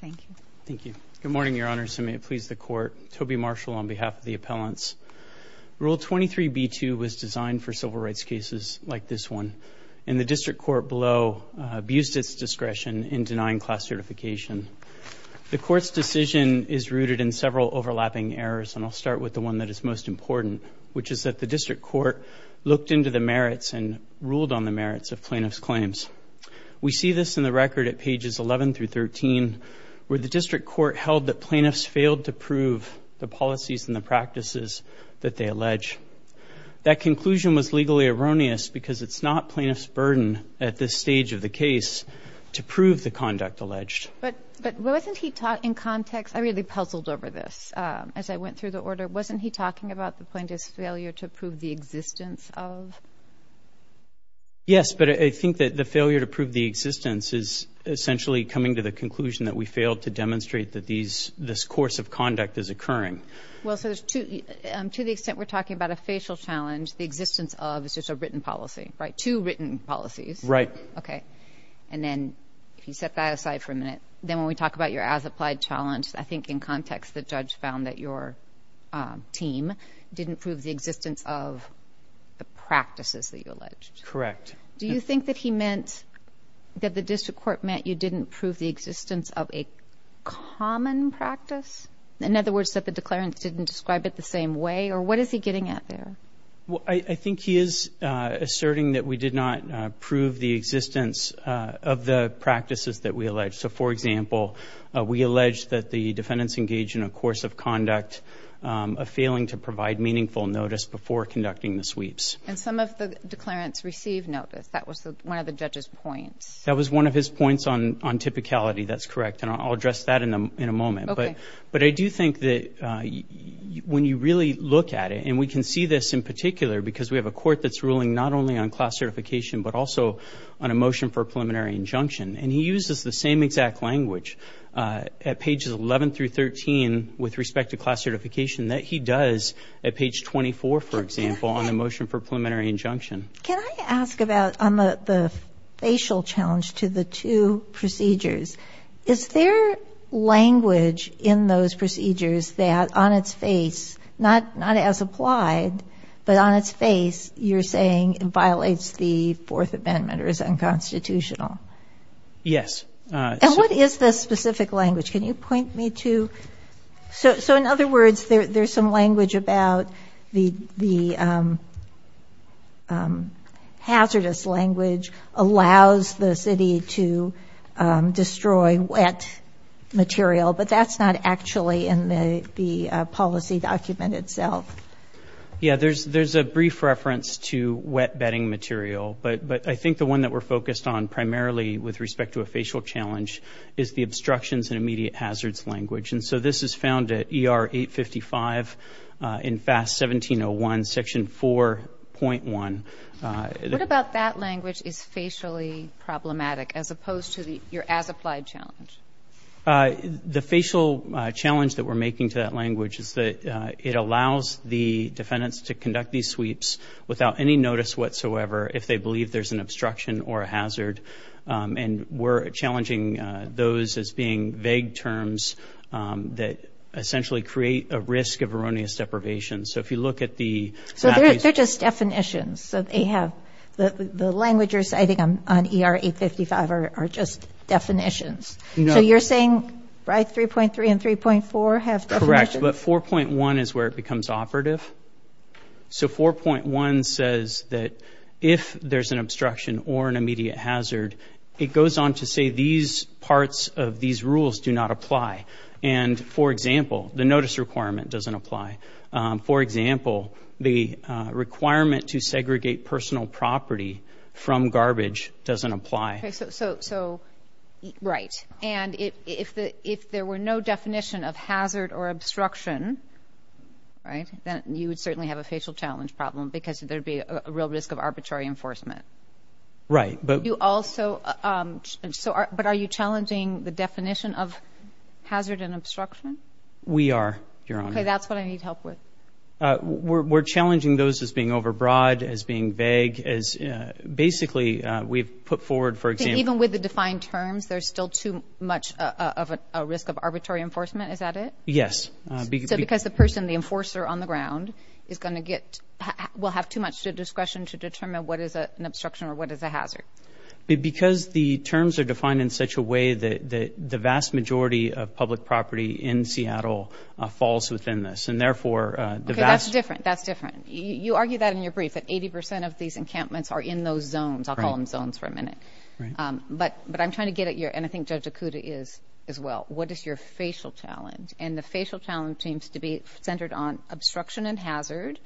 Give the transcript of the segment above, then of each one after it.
Thank you. Thank you. Good morning, Your Honor. So may it please the court. Toby Marshall on behalf of the appellants. Rule 23 B2 was designed for civil rights cases like this one, and the district court below abused its discretion in denying class certification. The court's decision is rooted in several overlapping errors and I'll start with the one that is most important, which is that the district court looked into the merits and ruled on the merits of plaintiffs claims. We see this in the record at pages 11 through 13, where the district court held that plaintiffs failed to prove the policies and the practices that they allege. That conclusion was legally erroneous because it's not plaintiff's burden at this stage of the case to prove the conduct alleged. But wasn't he taught in context? I really puzzled over this as I went through the order. Wasn't he talking about the plaintiff's failure to prove the existence of? Yes, but I think that the failure to prove the existence is essentially coming to the conclusion that we failed to demonstrate that these this course of conduct is occurring. Well, so there's two to the extent we're talking about a facial challenge. The existence of is just a written policy. Right. Two written policies. Right. Okay. And then if you set that aside for a minute, then when we talk about your as applied challenge, I think in context, the judge found that your team didn't prove the existence of the practices that you alleged. Correct. Do you think that he meant that the district court meant you didn't prove the existence of a common practice? In other words, that the declarants didn't describe it the same way or what is he getting at there? Well, I think he is asserting that we did not prove the existence of the practices that we allege. So, for example, we allege that the defendants engage in a course of conduct of failing to provide meaningful notice before conducting the sweeps. And some of the declarants receive notice. That was one of the judge's points. That was one of his points on on typicality. That's correct. And I'll address that in a in a moment. But but I do think that when you really look at it and we can see this in particular because we have a court that's ruling not only on class certification, but also on a motion for preliminary injunction, and he uses the same exact language at pages 11 through 13 with respect to class certification that he does at page 24, for example, on a motion for preliminary injunction. Can I ask about the facial challenge to the two procedures? Is there language in those procedures that on its face, not not as applied, but on its face? You're saying it violates the Fourth Amendment or is unconstitutional. Yes. And what is the specific language? Can you point me to. So in other words, there's some language about the the hazardous language allows the city to destroy wet material. But that's not actually in the policy document itself. Yeah, there's there's a brief reference to wet bedding material. But but I think the one that we're focused on primarily with respect to a facial challenge is the obstructions and immediate hazards language. And so this is found at E.R. 855 in FAST 1701, Section 4.1. What about that language is facially problematic as opposed to your as applied challenge? The facial challenge that we're making to that language is that it allows the defendants to conduct these sweeps without any notice whatsoever. If they believe there's an obstruction or a hazard. And we're challenging those as being vague terms that essentially create a risk of erroneous deprivation. So if you look at the. So they're just definitions that they have. The language you're citing on E.R. 855 are just definitions. So you're saying right. Three point three and three point four have. Correct. But four point one is where it becomes operative. So four point one says that if there's an obstruction or an immediate hazard, it goes on to say these parts of these rules do not apply. And for example, the notice requirement doesn't apply. For example, the requirement to segregate personal property from garbage doesn't apply. So. So. Right. And if the if there were no definition of hazard or obstruction. Right. Then you would certainly have a facial challenge problem because there'd be a real risk of arbitrary enforcement. Right. But you also. So. But are you challenging the definition of hazard and obstruction? We are. You're on. That's what I need help with. We're challenging those as being overbroad, as being vague, as basically we've put forward, for example. Even with the defined terms, there's still too much of a risk of arbitrary enforcement. Is that it? Yes. Because the person, the enforcer on the ground is going to get. We'll have too much discretion to determine what is an obstruction or what is a hazard. Because the terms are defined in such a way that the vast majority of public property in Seattle falls within this. And therefore, that's different. That's different. You argue that in your brief, that 80 percent of these encampments are in those zones. I'll call them zones for a minute. But but I'm trying to get it here. And I think Judge Dakota is as well. What is your facial challenge? And the facial challenge seems to be centered on obstruction and hazard.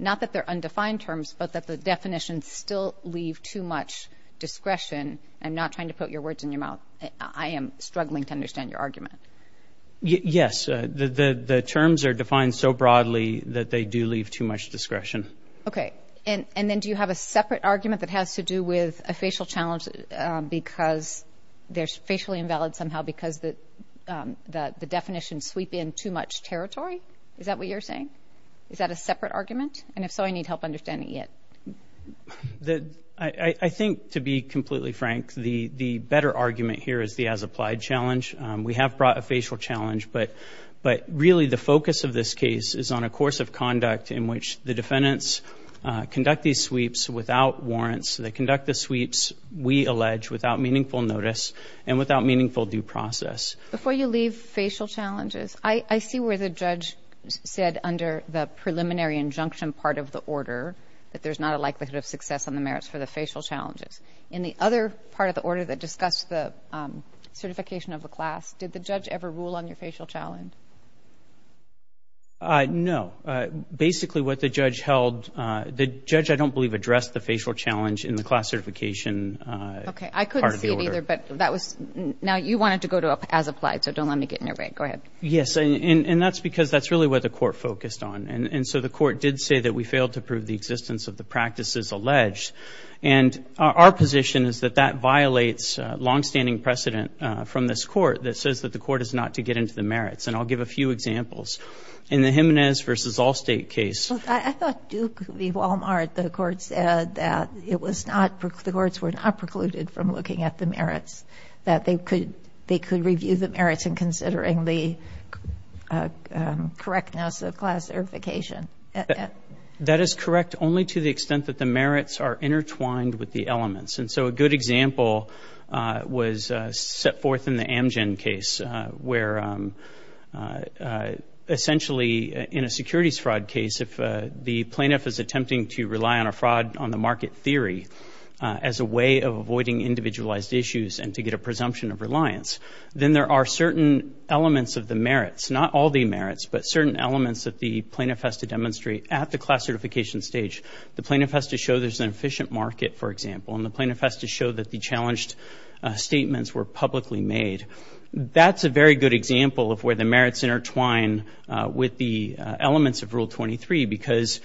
Not that they're undefined terms, but that the definition still leave too much discretion. I'm not trying to put your words in your mouth. I am struggling to understand your argument. Yes. The terms are defined so broadly that they do leave too much discretion. OK. And then do you have a separate argument that has to do with a facial challenge? Because there's facially invalid somehow because that the definition sweep in too much territory. Is that what you're saying? Is that a separate argument? And if so, I need help understanding it. I think, to be completely frank, the the better argument here is the as applied challenge. We have brought a facial challenge, but but really the focus of this case is on a course of conduct in which the defendants conduct these sweeps without warrants. They conduct the sweeps, we allege, without meaningful notice and without meaningful due process. Before you leave facial challenges, I see where the judge said under the preliminary injunction part of the order that there's not a likelihood of success on the merits for the facial challenges. In the other part of the order that discussed the certification of a class, did the judge ever rule on your facial challenge? No. Basically, what the judge held, the judge, I don't believe, addressed the facial challenge in the classification. OK, I couldn't see it either, but that was now you wanted to go to as applied. So don't let me get in your way. Go ahead. Yes. And that's because that's really what the court focused on. And so the court did say that we failed to prove the existence of the practices alleged. And our position is that that violates longstanding precedent from this court that says that the court is not to get into the merits. And I'll give a few examples in the Jimenez versus Allstate case. I thought Duke could be Walmart. The court said that it was not the courts were not precluded from looking at the merits, that they could they could review the merits and considering the correctness of class certification. That is correct only to the extent that the merits are intertwined with the elements. And so a good example was set forth in the Amgen case where essentially in a securities fraud case, if the plaintiff is attempting to rely on a fraud on the market theory as a way of avoiding individualized issues and to get a presumption of reliance, then there are certain elements of the merits, not all the merits, but certain elements that the plaintiff has to demonstrate at the class certification stage. The plaintiff has to show there's an efficient market, for example, and the plaintiff has to show that the challenged statements were publicly made. That's a very good example of where the merits intertwine with the elements of Rule 23 because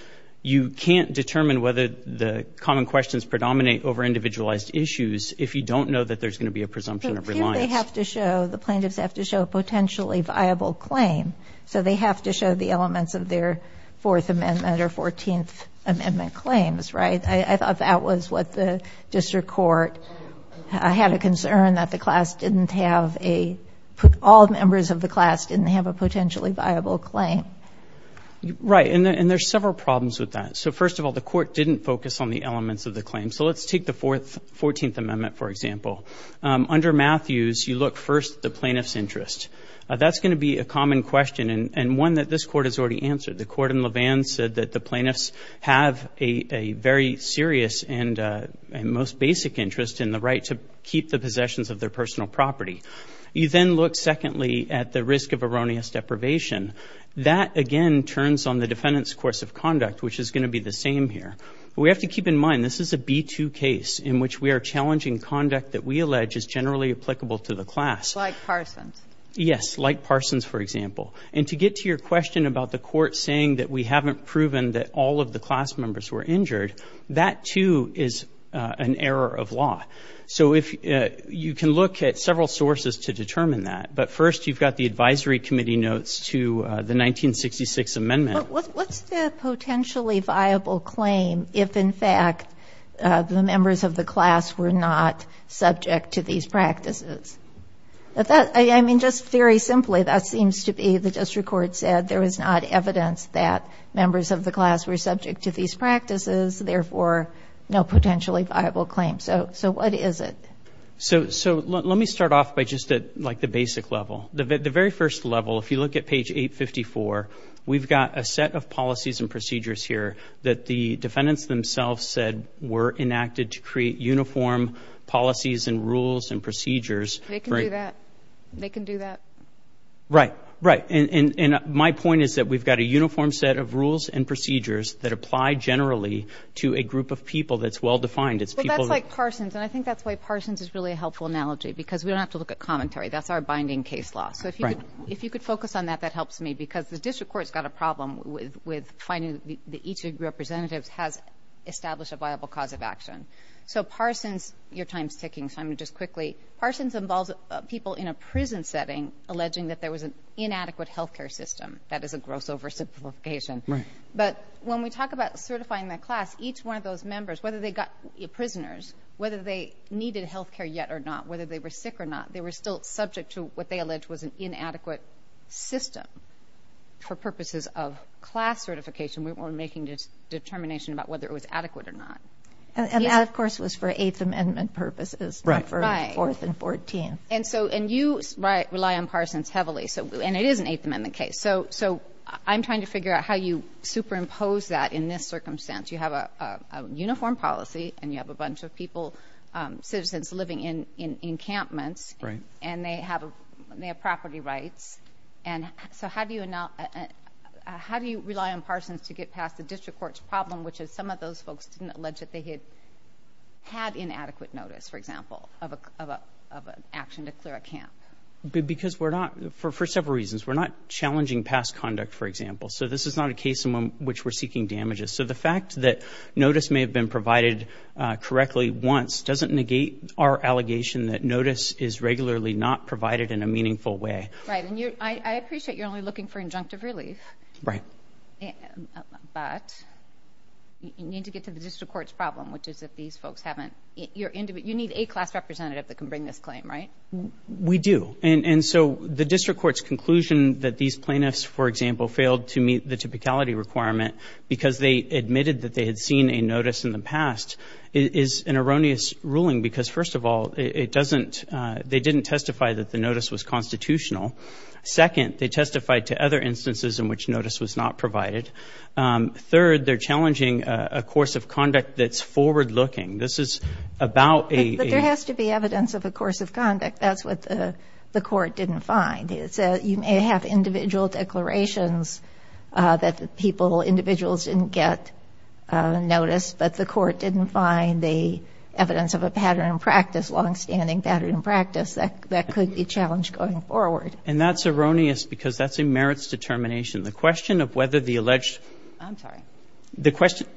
you can't determine whether the common questions predominate over individualized issues if you don't know that there's going to be a presumption of reliance. But here they have to show, the plaintiffs have to show a potentially viable claim. So they have to show the elements of their Fourth Amendment or Fourteenth Amendment claims, right? I thought that was what the district court had a concern that the class didn't have a, all members of the class didn't have a potentially viable claim. Right, and there's several problems with that. So first of all, the court didn't focus on the elements of the claim. So let's take the Fourteenth Amendment, for example. Under Matthews, you look first at the plaintiff's interest. That's going to be a common question and one that this court has already answered. The court in Levin said that the plaintiffs have a very serious and most basic interest in the right to keep the possessions of their personal property. You then look secondly at the risk of erroneous deprivation. That, again, turns on the defendant's course of conduct, which is going to be the same here. We have to keep in mind this is a B-2 case in which we are challenging conduct that we allege is generally applicable to the class. Like Parsons. Yes, like Parsons, for example. And to get to your question about the court saying that we haven't proven that all of the class members were injured, that, too, is an error of law. So you can look at several sources to determine that, but first you've got the advisory committee notes to the 1966 amendment. But what's the potentially viable claim if, in fact, the members of the class were not subject to these practices? I mean, just very simply, that seems to be the district court said there was not evidence that members of the class were subject to these practices, therefore no potentially viable claim. So what is it? So let me start off by just at, like, the basic level. The very first level, if you look at page 854, we've got a set of policies and procedures here that the defendants themselves said were enacted to create uniform policies and rules and procedures. They can do that? They can do that? Right. Right. And my point is that we've got a uniform set of rules and procedures that apply generally to a group of people that's well-defined. Well, that's like Parsons, and I think that's why Parsons is really a helpful analogy, because we don't have to look at commentary. That's our binding case law. So if you could focus on that, that helps me, because the district court's got a problem with finding that each of your representatives has established a viable cause of action. So Parsons, your time's ticking, so I'm going to just quickly. Parsons involves people in a prison setting alleging that there was an inadequate health care system. That is a gross oversimplification. Right. But when we talk about certifying the class, each one of those members, whether they got prisoners, whether they needed health care yet or not, whether they were sick or not, they were still subject to what they alleged was an inadequate system for purposes of class certification. We weren't making a determination about whether it was adequate or not. And that, of course, was for Eighth Amendment purposes, not for Fourth and Fourteenth. And you rely on Parsons heavily, and it is an Eighth Amendment case. So I'm trying to figure out how you superimpose that in this circumstance. You have a uniform policy, and you have a bunch of people, citizens living in encampments. Right. And they have property rights. So how do you rely on Parsons to get past the district court's problem, which is some of those folks didn't allege that they had had inadequate notice, for example, of an action to clear a camp? Because we're not, for several reasons, we're not challenging past conduct, for example. So this is not a case in which we're seeking damages. So the fact that notice may have been provided correctly once doesn't negate our allegation that notice is regularly not provided in a meaningful way. Right. And I appreciate you're only looking for injunctive relief. Right. But you need to get to the district court's problem, which is if these folks haven't. You need a class representative that can bring this claim, right? We do. And so the district court's conclusion that these plaintiffs, for example, failed to meet the typicality requirement because they admitted that they had seen a notice in the past is an erroneous ruling. Because, first of all, it doesn't, they didn't testify that the notice was constitutional. Second, they testified to other instances in which notice was not provided. Third, they're challenging a course of conduct that's forward-looking. This is about a... But there has to be evidence of a course of conduct. That's what the court didn't find. You may have individual declarations that the people, individuals didn't get notice, but the court didn't find the evidence of a pattern in practice, longstanding pattern in practice. That could be challenged going forward. And that's erroneous because that's a merits determination. The question of whether the alleged... I'm sorry. The question...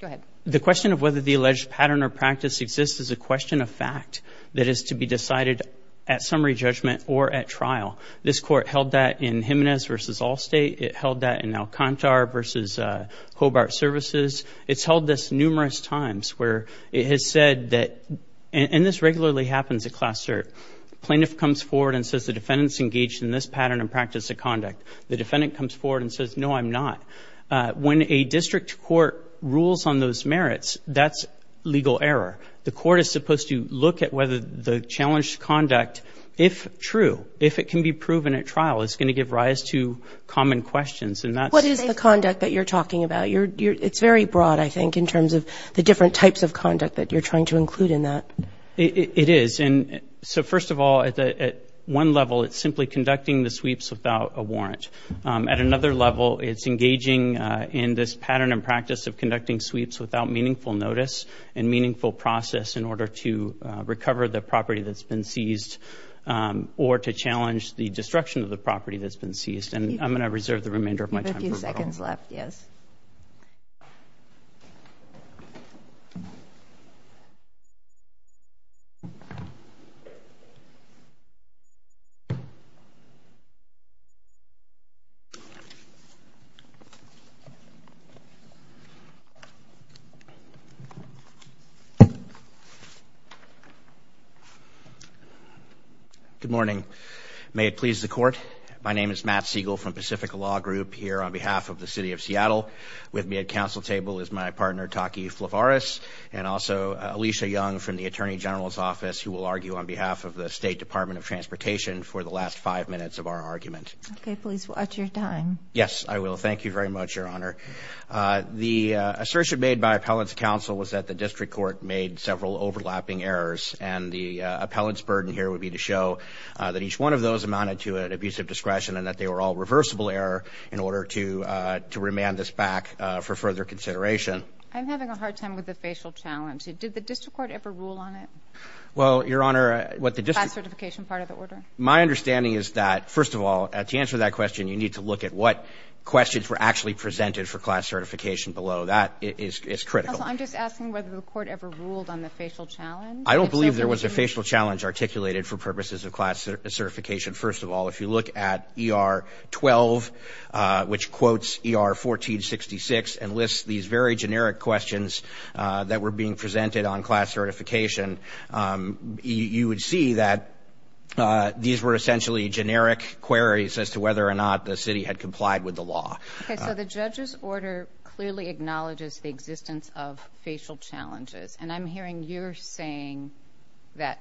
Go ahead. The question of whether the alleged pattern or practice exists is a question of fact that is to be decided at summary judgment or at trial. This court held that in Jimenez v. Allstate. It held that in Alcantara v. Hobart Services. It's held this numerous times where it has said that, and this regularly happens at Class Cert. Plaintiff comes forward and says the defendant's engaged in this pattern of practice of conduct. The defendant comes forward and says, no, I'm not. When a district court rules on those merits, that's legal error. The court is supposed to look at whether the challenged conduct, if true, if it can be proven at trial, is going to give rise to common questions, and that's... What is the conduct that you're talking about? It's very broad, I think, in terms of the different types of conduct that you're trying to include in that. It is. And so, first of all, at one level, it's simply conducting the sweeps without a warrant. At another level, it's engaging in this pattern and practice of conducting sweeps without meaningful notice and meaningful process in order to recover the property that's been seized or to challenge the destruction of the property that's been seized. And I'm going to reserve the remainder of my time. You have a few seconds left, yes. Good morning. May it please the Court. My name is Matt Siegel from Pacific Law Group here on behalf of the City of Seattle. With me at council table is my partner, Taki Flavaris, and also Alicia Young from the Attorney General's Office, who will argue on behalf of the State Department of Transportation for the last five minutes of our argument. Okay, please watch your time. Yes, I will. Thank you very much, Your Honor. The assertion made by Appellants' Counsel was that the district court made several overlapping errors, and the appellant's burden here would be to show that each one of those amounted to an abusive discretion and that they were all reversible error in order to remand this back for further consideration. I'm having a hard time with the facial challenge. Did the district court ever rule on it? Well, Your Honor, what the district court ---- Class certification part of the order? My understanding is that, first of all, to answer that question, you need to look at what questions were actually presented for class certification below. That is critical. Counsel, I'm just asking whether the court ever ruled on the facial challenge. I don't believe there was a facial challenge articulated for purposes of class certification. First of all, if you look at ER 12, which quotes ER 1466 and lists these very generic questions that were being presented on class certification, you would see that these were essentially generic queries as to whether or not the city had complied with the law. Okay, so the judge's order clearly acknowledges the existence of facial challenges, and I'm hearing you're saying that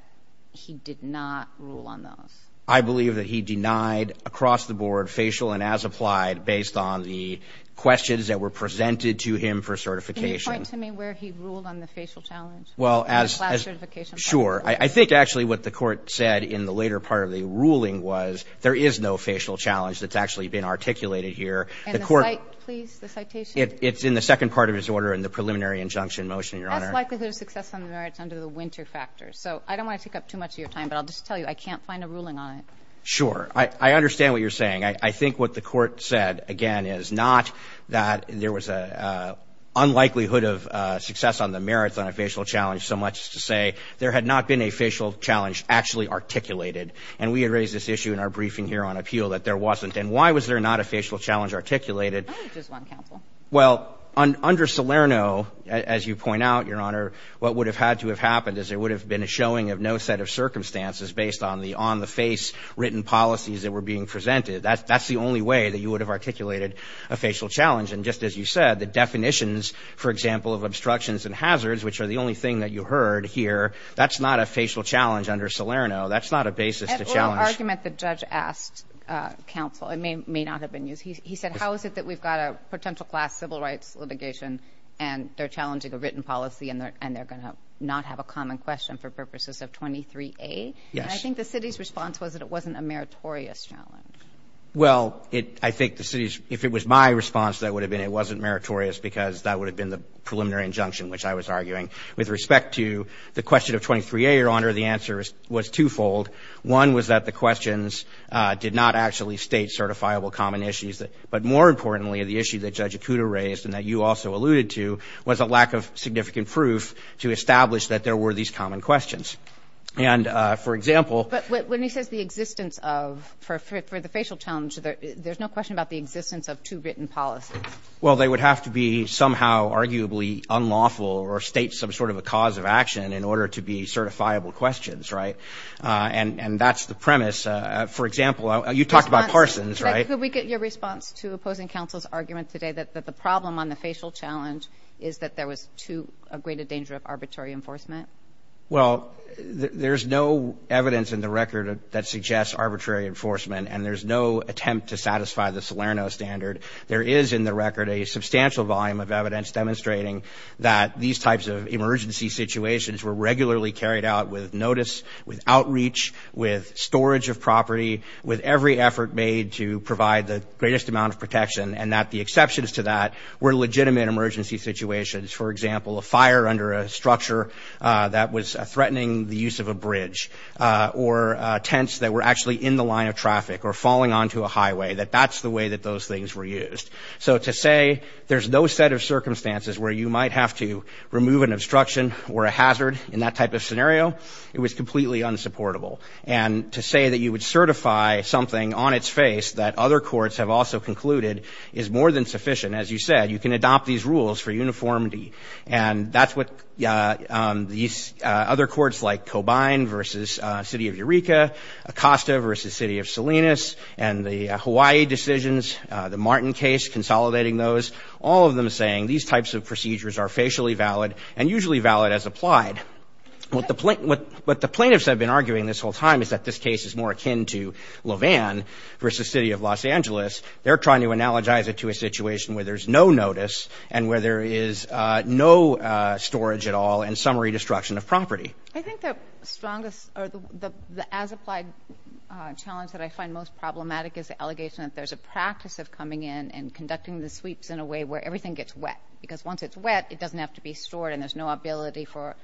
he did not rule on those. I believe that he denied across the board facial and as applied based on the questions that were presented to him for certification. Can you point to me where he ruled on the facial challenge? Well, as ---- Class certification part of the order. Sure. I think actually what the court said in the later part of the ruling was there is no facial challenge that's actually been articulated here. And the citation, please? It's in the second part of his order in the preliminary injunction motion, Your Honor. Unlikelihood of success on the merits under the winter factor. So I don't want to take up too much of your time, but I'll just tell you I can't find a ruling on it. Sure. I understand what you're saying. I think what the court said, again, is not that there was an unlikelihood of success on the merits on a facial challenge, so much to say there had not been a facial challenge actually articulated. And we had raised this issue in our briefing here on appeal that there wasn't. And why was there not a facial challenge articulated? Oh, just one counsel. Well, under Salerno, as you point out, Your Honor, what would have had to have happened is there would have been a showing of no set of circumstances based on the on-the-face written policies that were being presented. That's the only way that you would have articulated a facial challenge. And just as you said, the definitions, for example, of obstructions and hazards, which are the only thing that you heard here, that's not a facial challenge under Salerno. That's not a basis to challenge. An oral argument the judge asked counsel. It may not have been used. He said, how is it that we've got a potential class civil rights litigation and they're challenging a written policy and they're going to not have a common question for purposes of 23A? Yes. And I think the city's response was that it wasn't a meritorious challenge. Well, I think the city's, if it was my response, that would have been it wasn't meritorious because that would have been the preliminary injunction, which I was arguing. With respect to the question of 23A, Your Honor, the answer was twofold. One was that the questions did not actually state certifiable common issues. But more importantly, the issue that Judge Acuda raised and that you also alluded to was a lack of significant proof to establish that there were these common questions. And, for example. But when he says the existence of, for the facial challenge, there's no question about the existence of two written policies. Well, they would have to be somehow arguably unlawful or state some sort of a cause of action in order to be certifiable questions, right? And that's the premise. For example, you talked about Parsons, right? Could we get your response to opposing counsel's argument today that the problem on the facial challenge is that there was too great a danger of arbitrary enforcement? Well, there's no evidence in the record that suggests arbitrary enforcement and there's no attempt to satisfy the Salerno standard. There is in the record a substantial volume of evidence demonstrating that these types of emergency situations were regularly carried out with notice, with outreach, with storage of property, with every effort made to provide the greatest amount of protection and that the exceptions to that were legitimate emergency situations. For example, a fire under a structure that was threatening the use of a bridge or tents that were actually in the line of traffic or falling onto a highway, that that's the way that those things were used. So to say there's no set of circumstances where you might have to remove an obstruction or a hazard in that type of scenario, it was completely unsupportable. And to say that you would certify something on its face that other courts have also concluded is more than sufficient, as you said, you can adopt these rules for uniformity. And that's what these other courts like Cobain versus City of Eureka, Acosta versus City of Salinas, and the Hawaii decisions, the Martin case consolidating those, all of them saying these types of procedures are facially valid and usually valid as applied. What the plaintiffs have been arguing this whole time is that this case is more akin to LaVanne versus City of Los Angeles. They're trying to analogize it to a situation where there's no notice and where there is no storage at all and summary destruction of property. I think the strongest or the as-applied challenge that I find most problematic is the allegation that there's a practice of coming in and conducting the sweeps in a way where everything gets wet. Because once it's wet, it doesn't have to be stored and there's no ability for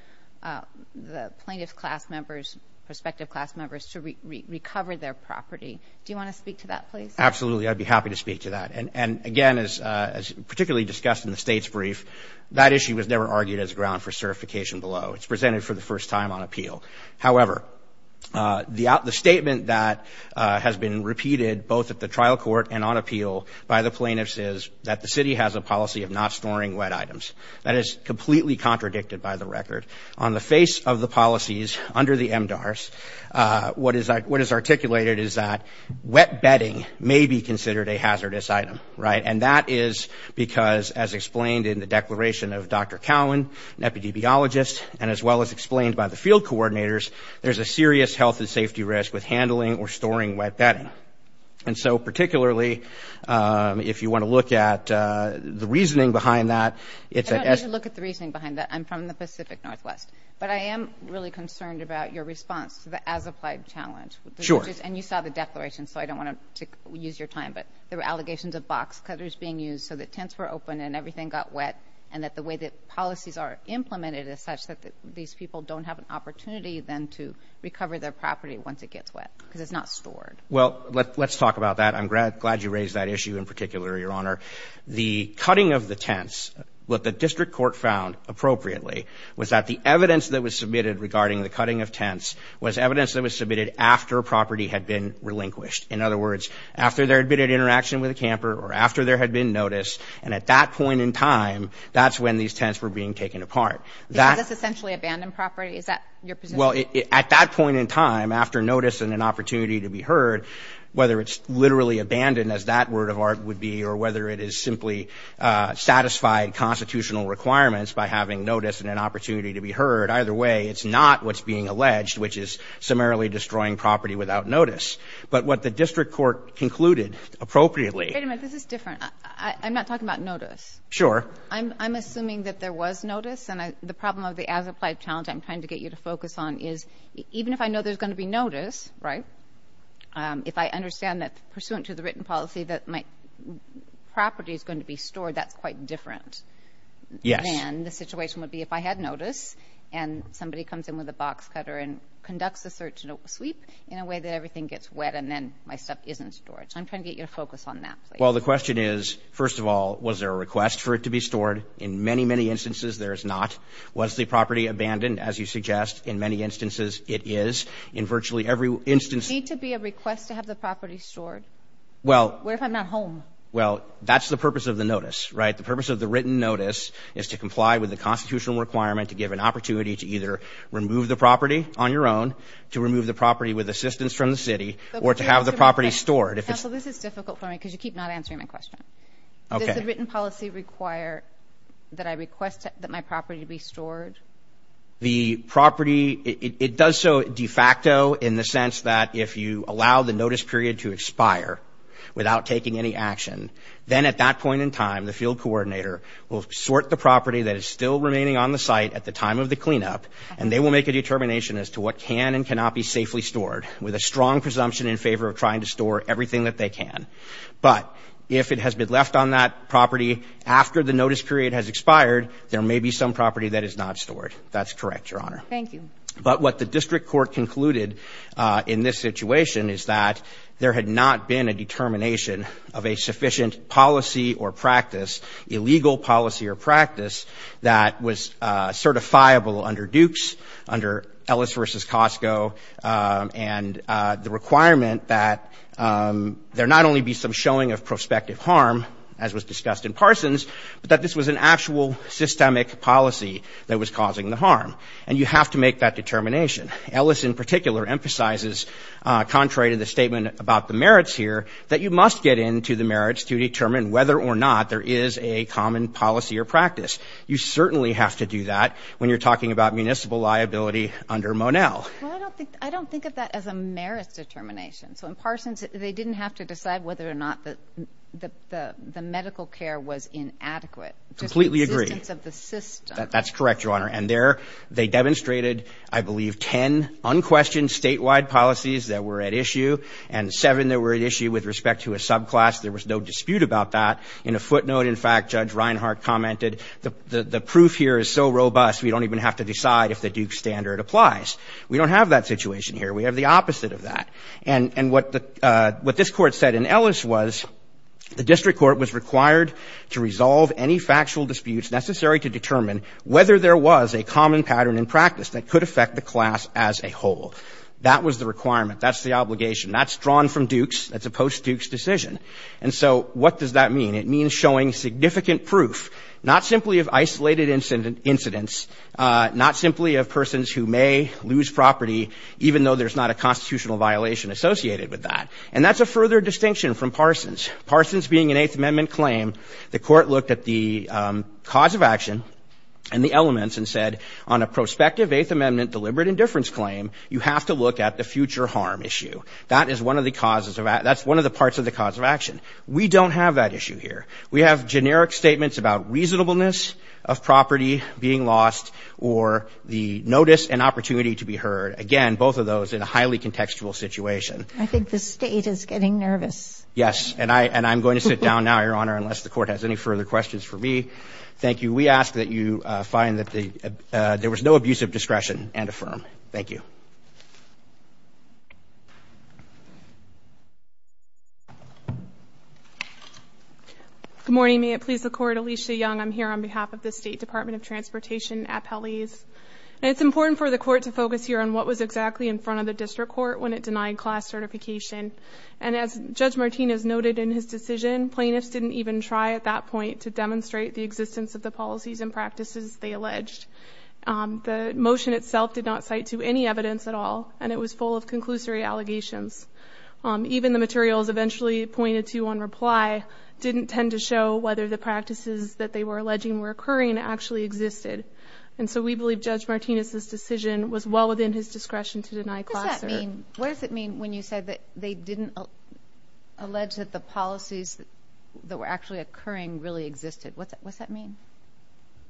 the plaintiff's class members, prospective class members to recover their property. Do you want to speak to that, please? Absolutely, I'd be happy to speak to that. And again, as particularly discussed in the State's brief, that issue was never argued as ground for certification below. It's presented for the first time on appeal. However, the statement that has been repeated both at the trial court and on appeal by the plaintiffs is that the city has a policy of not storing wet items. That is completely contradicted by the record. On the face of the policies under the MDARS, what is articulated is that wet bedding may be considered a hazardous item, right? And that is because, as explained in the declaration of Dr. Cowan, an epidemiologist, and as well as explained by the field coordinators, there's a serious health and safety risk with handling or storing wet bedding. And so particularly, if you want to look at the reasoning behind that, it's at S- I don't need to look at the reasoning behind that. I'm from the Pacific Northwest. But I am really concerned about your response to the as-applied challenge. Sure. And you saw the declaration, so I don't want to use your time, but there were allegations of box cutters being used so that tents were open and everything got wet and that the way that policies are implemented is such that these people don't have an opportunity then to recover their property once it gets wet because it's not stored. Well, let's talk about that. I'm glad you raised that issue in particular, Your Honor. The cutting of the tents, what the district court found appropriately, was that the evidence that was submitted regarding the cutting of tents was evidence that was submitted after property had been relinquished. In other words, after there had been an interaction with a camper or after there had been notice, and at that point in time, that's when these tents were being taken apart. Is this essentially abandoned property? Is that your position? Well, at that point in time, after notice and an opportunity to be heard, whether it's literally abandoned, as that word of art would be, or whether it is simply satisfied constitutional requirements by having notice and an opportunity to be heard, either way, it's not what's being alleged, which is summarily destroying property without notice. But what the district court concluded appropriately – Wait a minute. This is different. I'm not talking about notice. Sure. I'm assuming that there was notice, and the problem of the as-applied challenge I'm trying to get you to focus on is even if I know there's going to be notice, right, if I understand that pursuant to the written policy that my property is going to be stored, that's quite different than the situation would be if I had notice and somebody comes in with a box cutter and conducts a search and a sweep in a way that everything gets wet and then my stuff isn't stored. So I'm trying to get you to focus on that. Well, the question is, first of all, was there a request for it to be stored? In many, many instances there is not. Was the property abandoned? As you suggest, in many instances it is. In virtually every instance – Does it need to be a request to have the property stored? Well – What if I'm not home? Well, that's the purpose of the notice, right? The purpose of the written notice is to comply with the constitutional requirement to give an opportunity to either remove the property on your own, to remove the property with assistance from the city, or to have the property stored. Counsel, this is difficult for me because you keep not answering my question. Okay. Does the written policy require that I request that my property be stored? The property – it does so de facto in the sense that if you allow the notice period to expire without taking any action, then at that point in time the field coordinator will sort the property that is still remaining on the site at the time of the cleanup and they will make a determination as to what can and cannot be safely stored with a strong presumption in favor of trying to store everything that they can. But if it has been left on that property after the notice period has expired, there may be some property that is not stored. That's correct, Your Honor. Thank you. But what the district court concluded in this situation is that there had not been a determination of a sufficient policy or practice, illegal policy or practice, that was certifiable under Dukes, under Ellis v. Costco, and the requirement that there not only be some showing of prospective harm, as was discussed in Parsons, but that this was an actual systemic policy that was causing the harm. And you have to make that determination. Ellis in particular emphasizes, contrary to the statement about the merits here, that you must get into the merits to determine whether or not there is a common policy or practice. You certainly have to do that when you're talking about municipal liability under Monell. Well, I don't think of that as a merits determination. So in Parsons, they didn't have to decide whether or not the medical care was inadequate. Completely agree. Just the existence of the system. That's correct, Your Honor. And there they demonstrated, I believe, ten unquestioned statewide policies that were at issue and seven that were at issue with respect to a subclass. There was no dispute about that. In a footnote, in fact, Judge Reinhart commented, the proof here is so robust we don't even have to decide if the Dukes standard applies. We don't have that situation here. We have the opposite of that. And what this Court said in Ellis was the district court was required to resolve any factual disputes necessary to determine whether there was a common pattern in practice that could affect the class as a whole. That was the requirement. That's the obligation. That's drawn from Dukes. That's a post-Dukes decision. And so what does that mean? It means showing significant proof, not simply of isolated incidents, not simply of persons who may lose property, even though there's not a constitutional violation associated with that. And that's a further distinction from Parsons. Parsons being an Eighth Amendment claim, the Court looked at the cause of action and the elements and said on a prospective Eighth Amendment deliberate indifference claim, you have to look at the future harm issue. That is one of the causes of that. That's one of the parts of the cause of action. We don't have that issue here. We have generic statements about reasonableness of property being lost or the notice and opportunity to be heard. Again, both of those in a highly contextual situation. I think the State is getting nervous. Yes. And I'm going to sit down now, Your Honor, unless the Court has any further questions for me. Thank you. We ask that you find that there was no abuse of discretion and affirm. Thank you. Good morning. May it please the Court. Alicia Young. I'm here on behalf of the State Department of Transportation appellees. And it's important for the Court to focus here on what was exactly in front of the district court when it denied class certification. And as Judge Martinez noted in his decision, plaintiffs didn't even try at that point to demonstrate the existence of the policies and practices they alleged. The motion itself did not cite to any evidence of abuse of discretion. And it was full of conclusory allegations. Even the materials eventually pointed to on reply didn't tend to show whether the practices that they were alleging were occurring and actually existed. And so we believe Judge Martinez's decision was well within his discretion to deny class certification. What does that mean? What does it mean when you said that they didn't allege that the policies that were actually occurring really existed? What does that mean?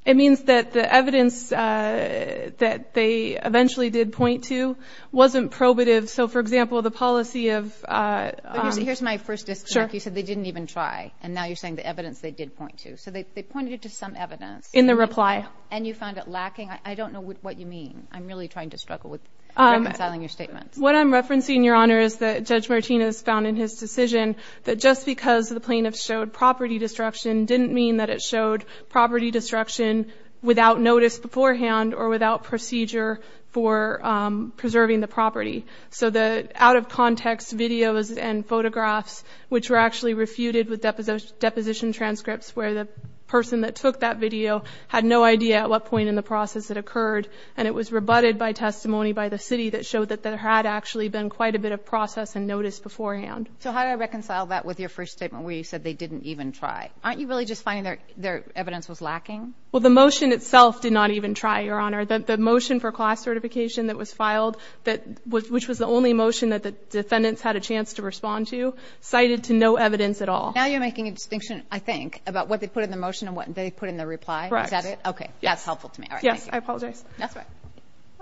It means that the evidence that they eventually did point to wasn't probative. So, for example, the policy of – Here's my first disconnect. You said they didn't even try. And now you're saying the evidence they did point to. So they pointed to some evidence. In the reply. And you found it lacking. I don't know what you mean. I'm really trying to struggle with reconciling your statements. What I'm referencing, Your Honor, is that Judge Martinez found in his decision that just because the plaintiffs showed property destruction didn't mean that it showed property destruction without notice beforehand or without procedure for preserving the property. So the out-of-context videos and photographs, which were actually refuted with deposition transcripts, where the person that took that video had no idea at what point in the process it occurred, and it was rebutted by testimony by the city that showed that there had actually been quite a bit of process and notice beforehand. So how do I reconcile that with your first statement where you said they didn't even try? Aren't you really just finding their evidence was lacking? Well, the motion itself did not even try, Your Honor. The motion for class certification that was filed, which was the only motion that the defendants had a chance to respond to, cited to no evidence at all. Now you're making a distinction, I think, about what they put in the motion and what they put in the reply. Correct. Is that it? That's helpful to me. Yes. I apologize. That's all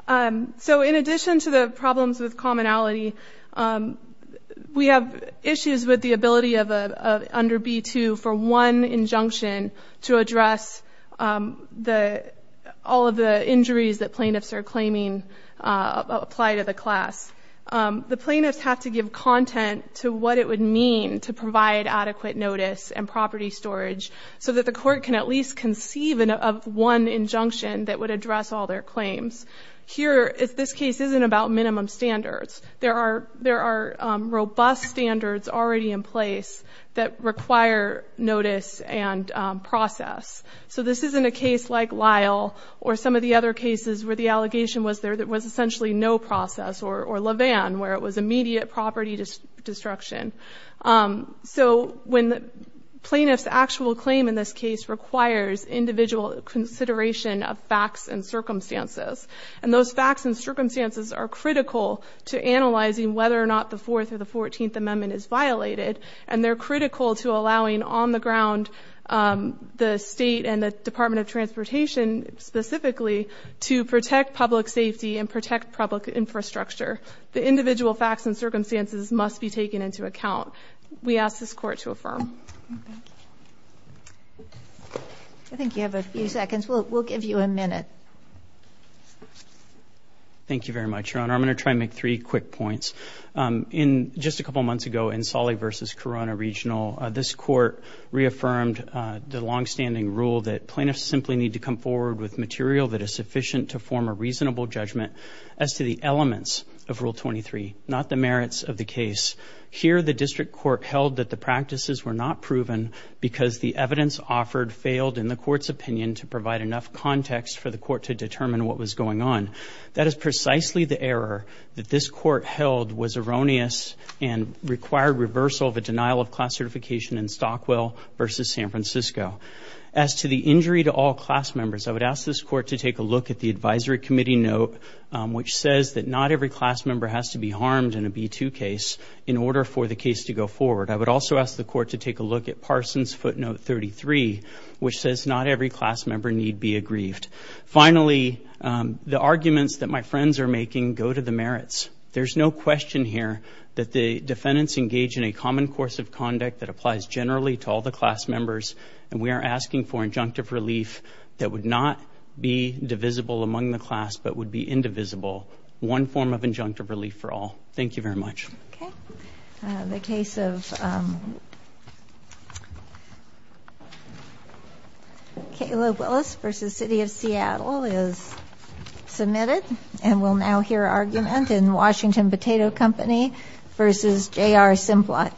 right. So in addition to the problems with commonality, we have issues with the ability under B-2 for one injunction to address all of the injuries that plaintiffs are claiming apply to the class. The plaintiffs have to give content to what it would mean to provide adequate notice and property storage so that the court can at least conceive of one injunction that would address all their claims. Here, this case isn't about minimum standards. There are robust standards already in place that require notice and process. So this isn't a case like Lyle or some of the other cases where the allegation was there that was essentially no process or Levan where it was immediate property destruction. So when the plaintiff's actual claim in this case requires individual consideration of facts and circumstances, and those facts and circumstances are critical to analyzing whether or not the 4th or the 14th Amendment is violated, and they're critical to allowing on the ground the state and the Department of Transportation specifically to protect public safety and protect public infrastructure, the individual facts and circumstances must be taken into account. We ask this court to affirm. I think you have a few seconds. We'll give you a minute. Thank you very much, Your Honor. I'm going to try and make three quick points. In just a couple months ago in Solly v. Corona Regional, this court reaffirmed the longstanding rule that plaintiffs simply need to come forward with material that is sufficient to form a reasonable judgment as to the elements of Rule 23, not the merits of the case. Here the district court held that the practices were not proven because the evidence offered failed in the court's opinion to provide enough context for the court to determine what was going on. That is precisely the error that this court held was erroneous and required reversal of a denial of class certification in Stockwell v. San Francisco. As to the injury to all class members, I would ask this court to take a look at the advisory committee note, which says that not every class member has to be harmed in a B-2 case in order for the case to go forward. I would also ask the court to take a look at Parsons' footnote 33, which says not every class member need be aggrieved. Finally, the arguments that my friends are making go to the merits. There's no question here that the defendants engage in a common course of conduct that applies generally to all the class members, and we are asking for injunctive relief that would not be divisible among the class but would be indivisible. One form of injunctive relief for all. Thank you very much. Okay. The case of Caleb Willis v. City of Seattle is submitted, and we'll now hear argument in Washington Potato Company v. J.R. Simplot Company.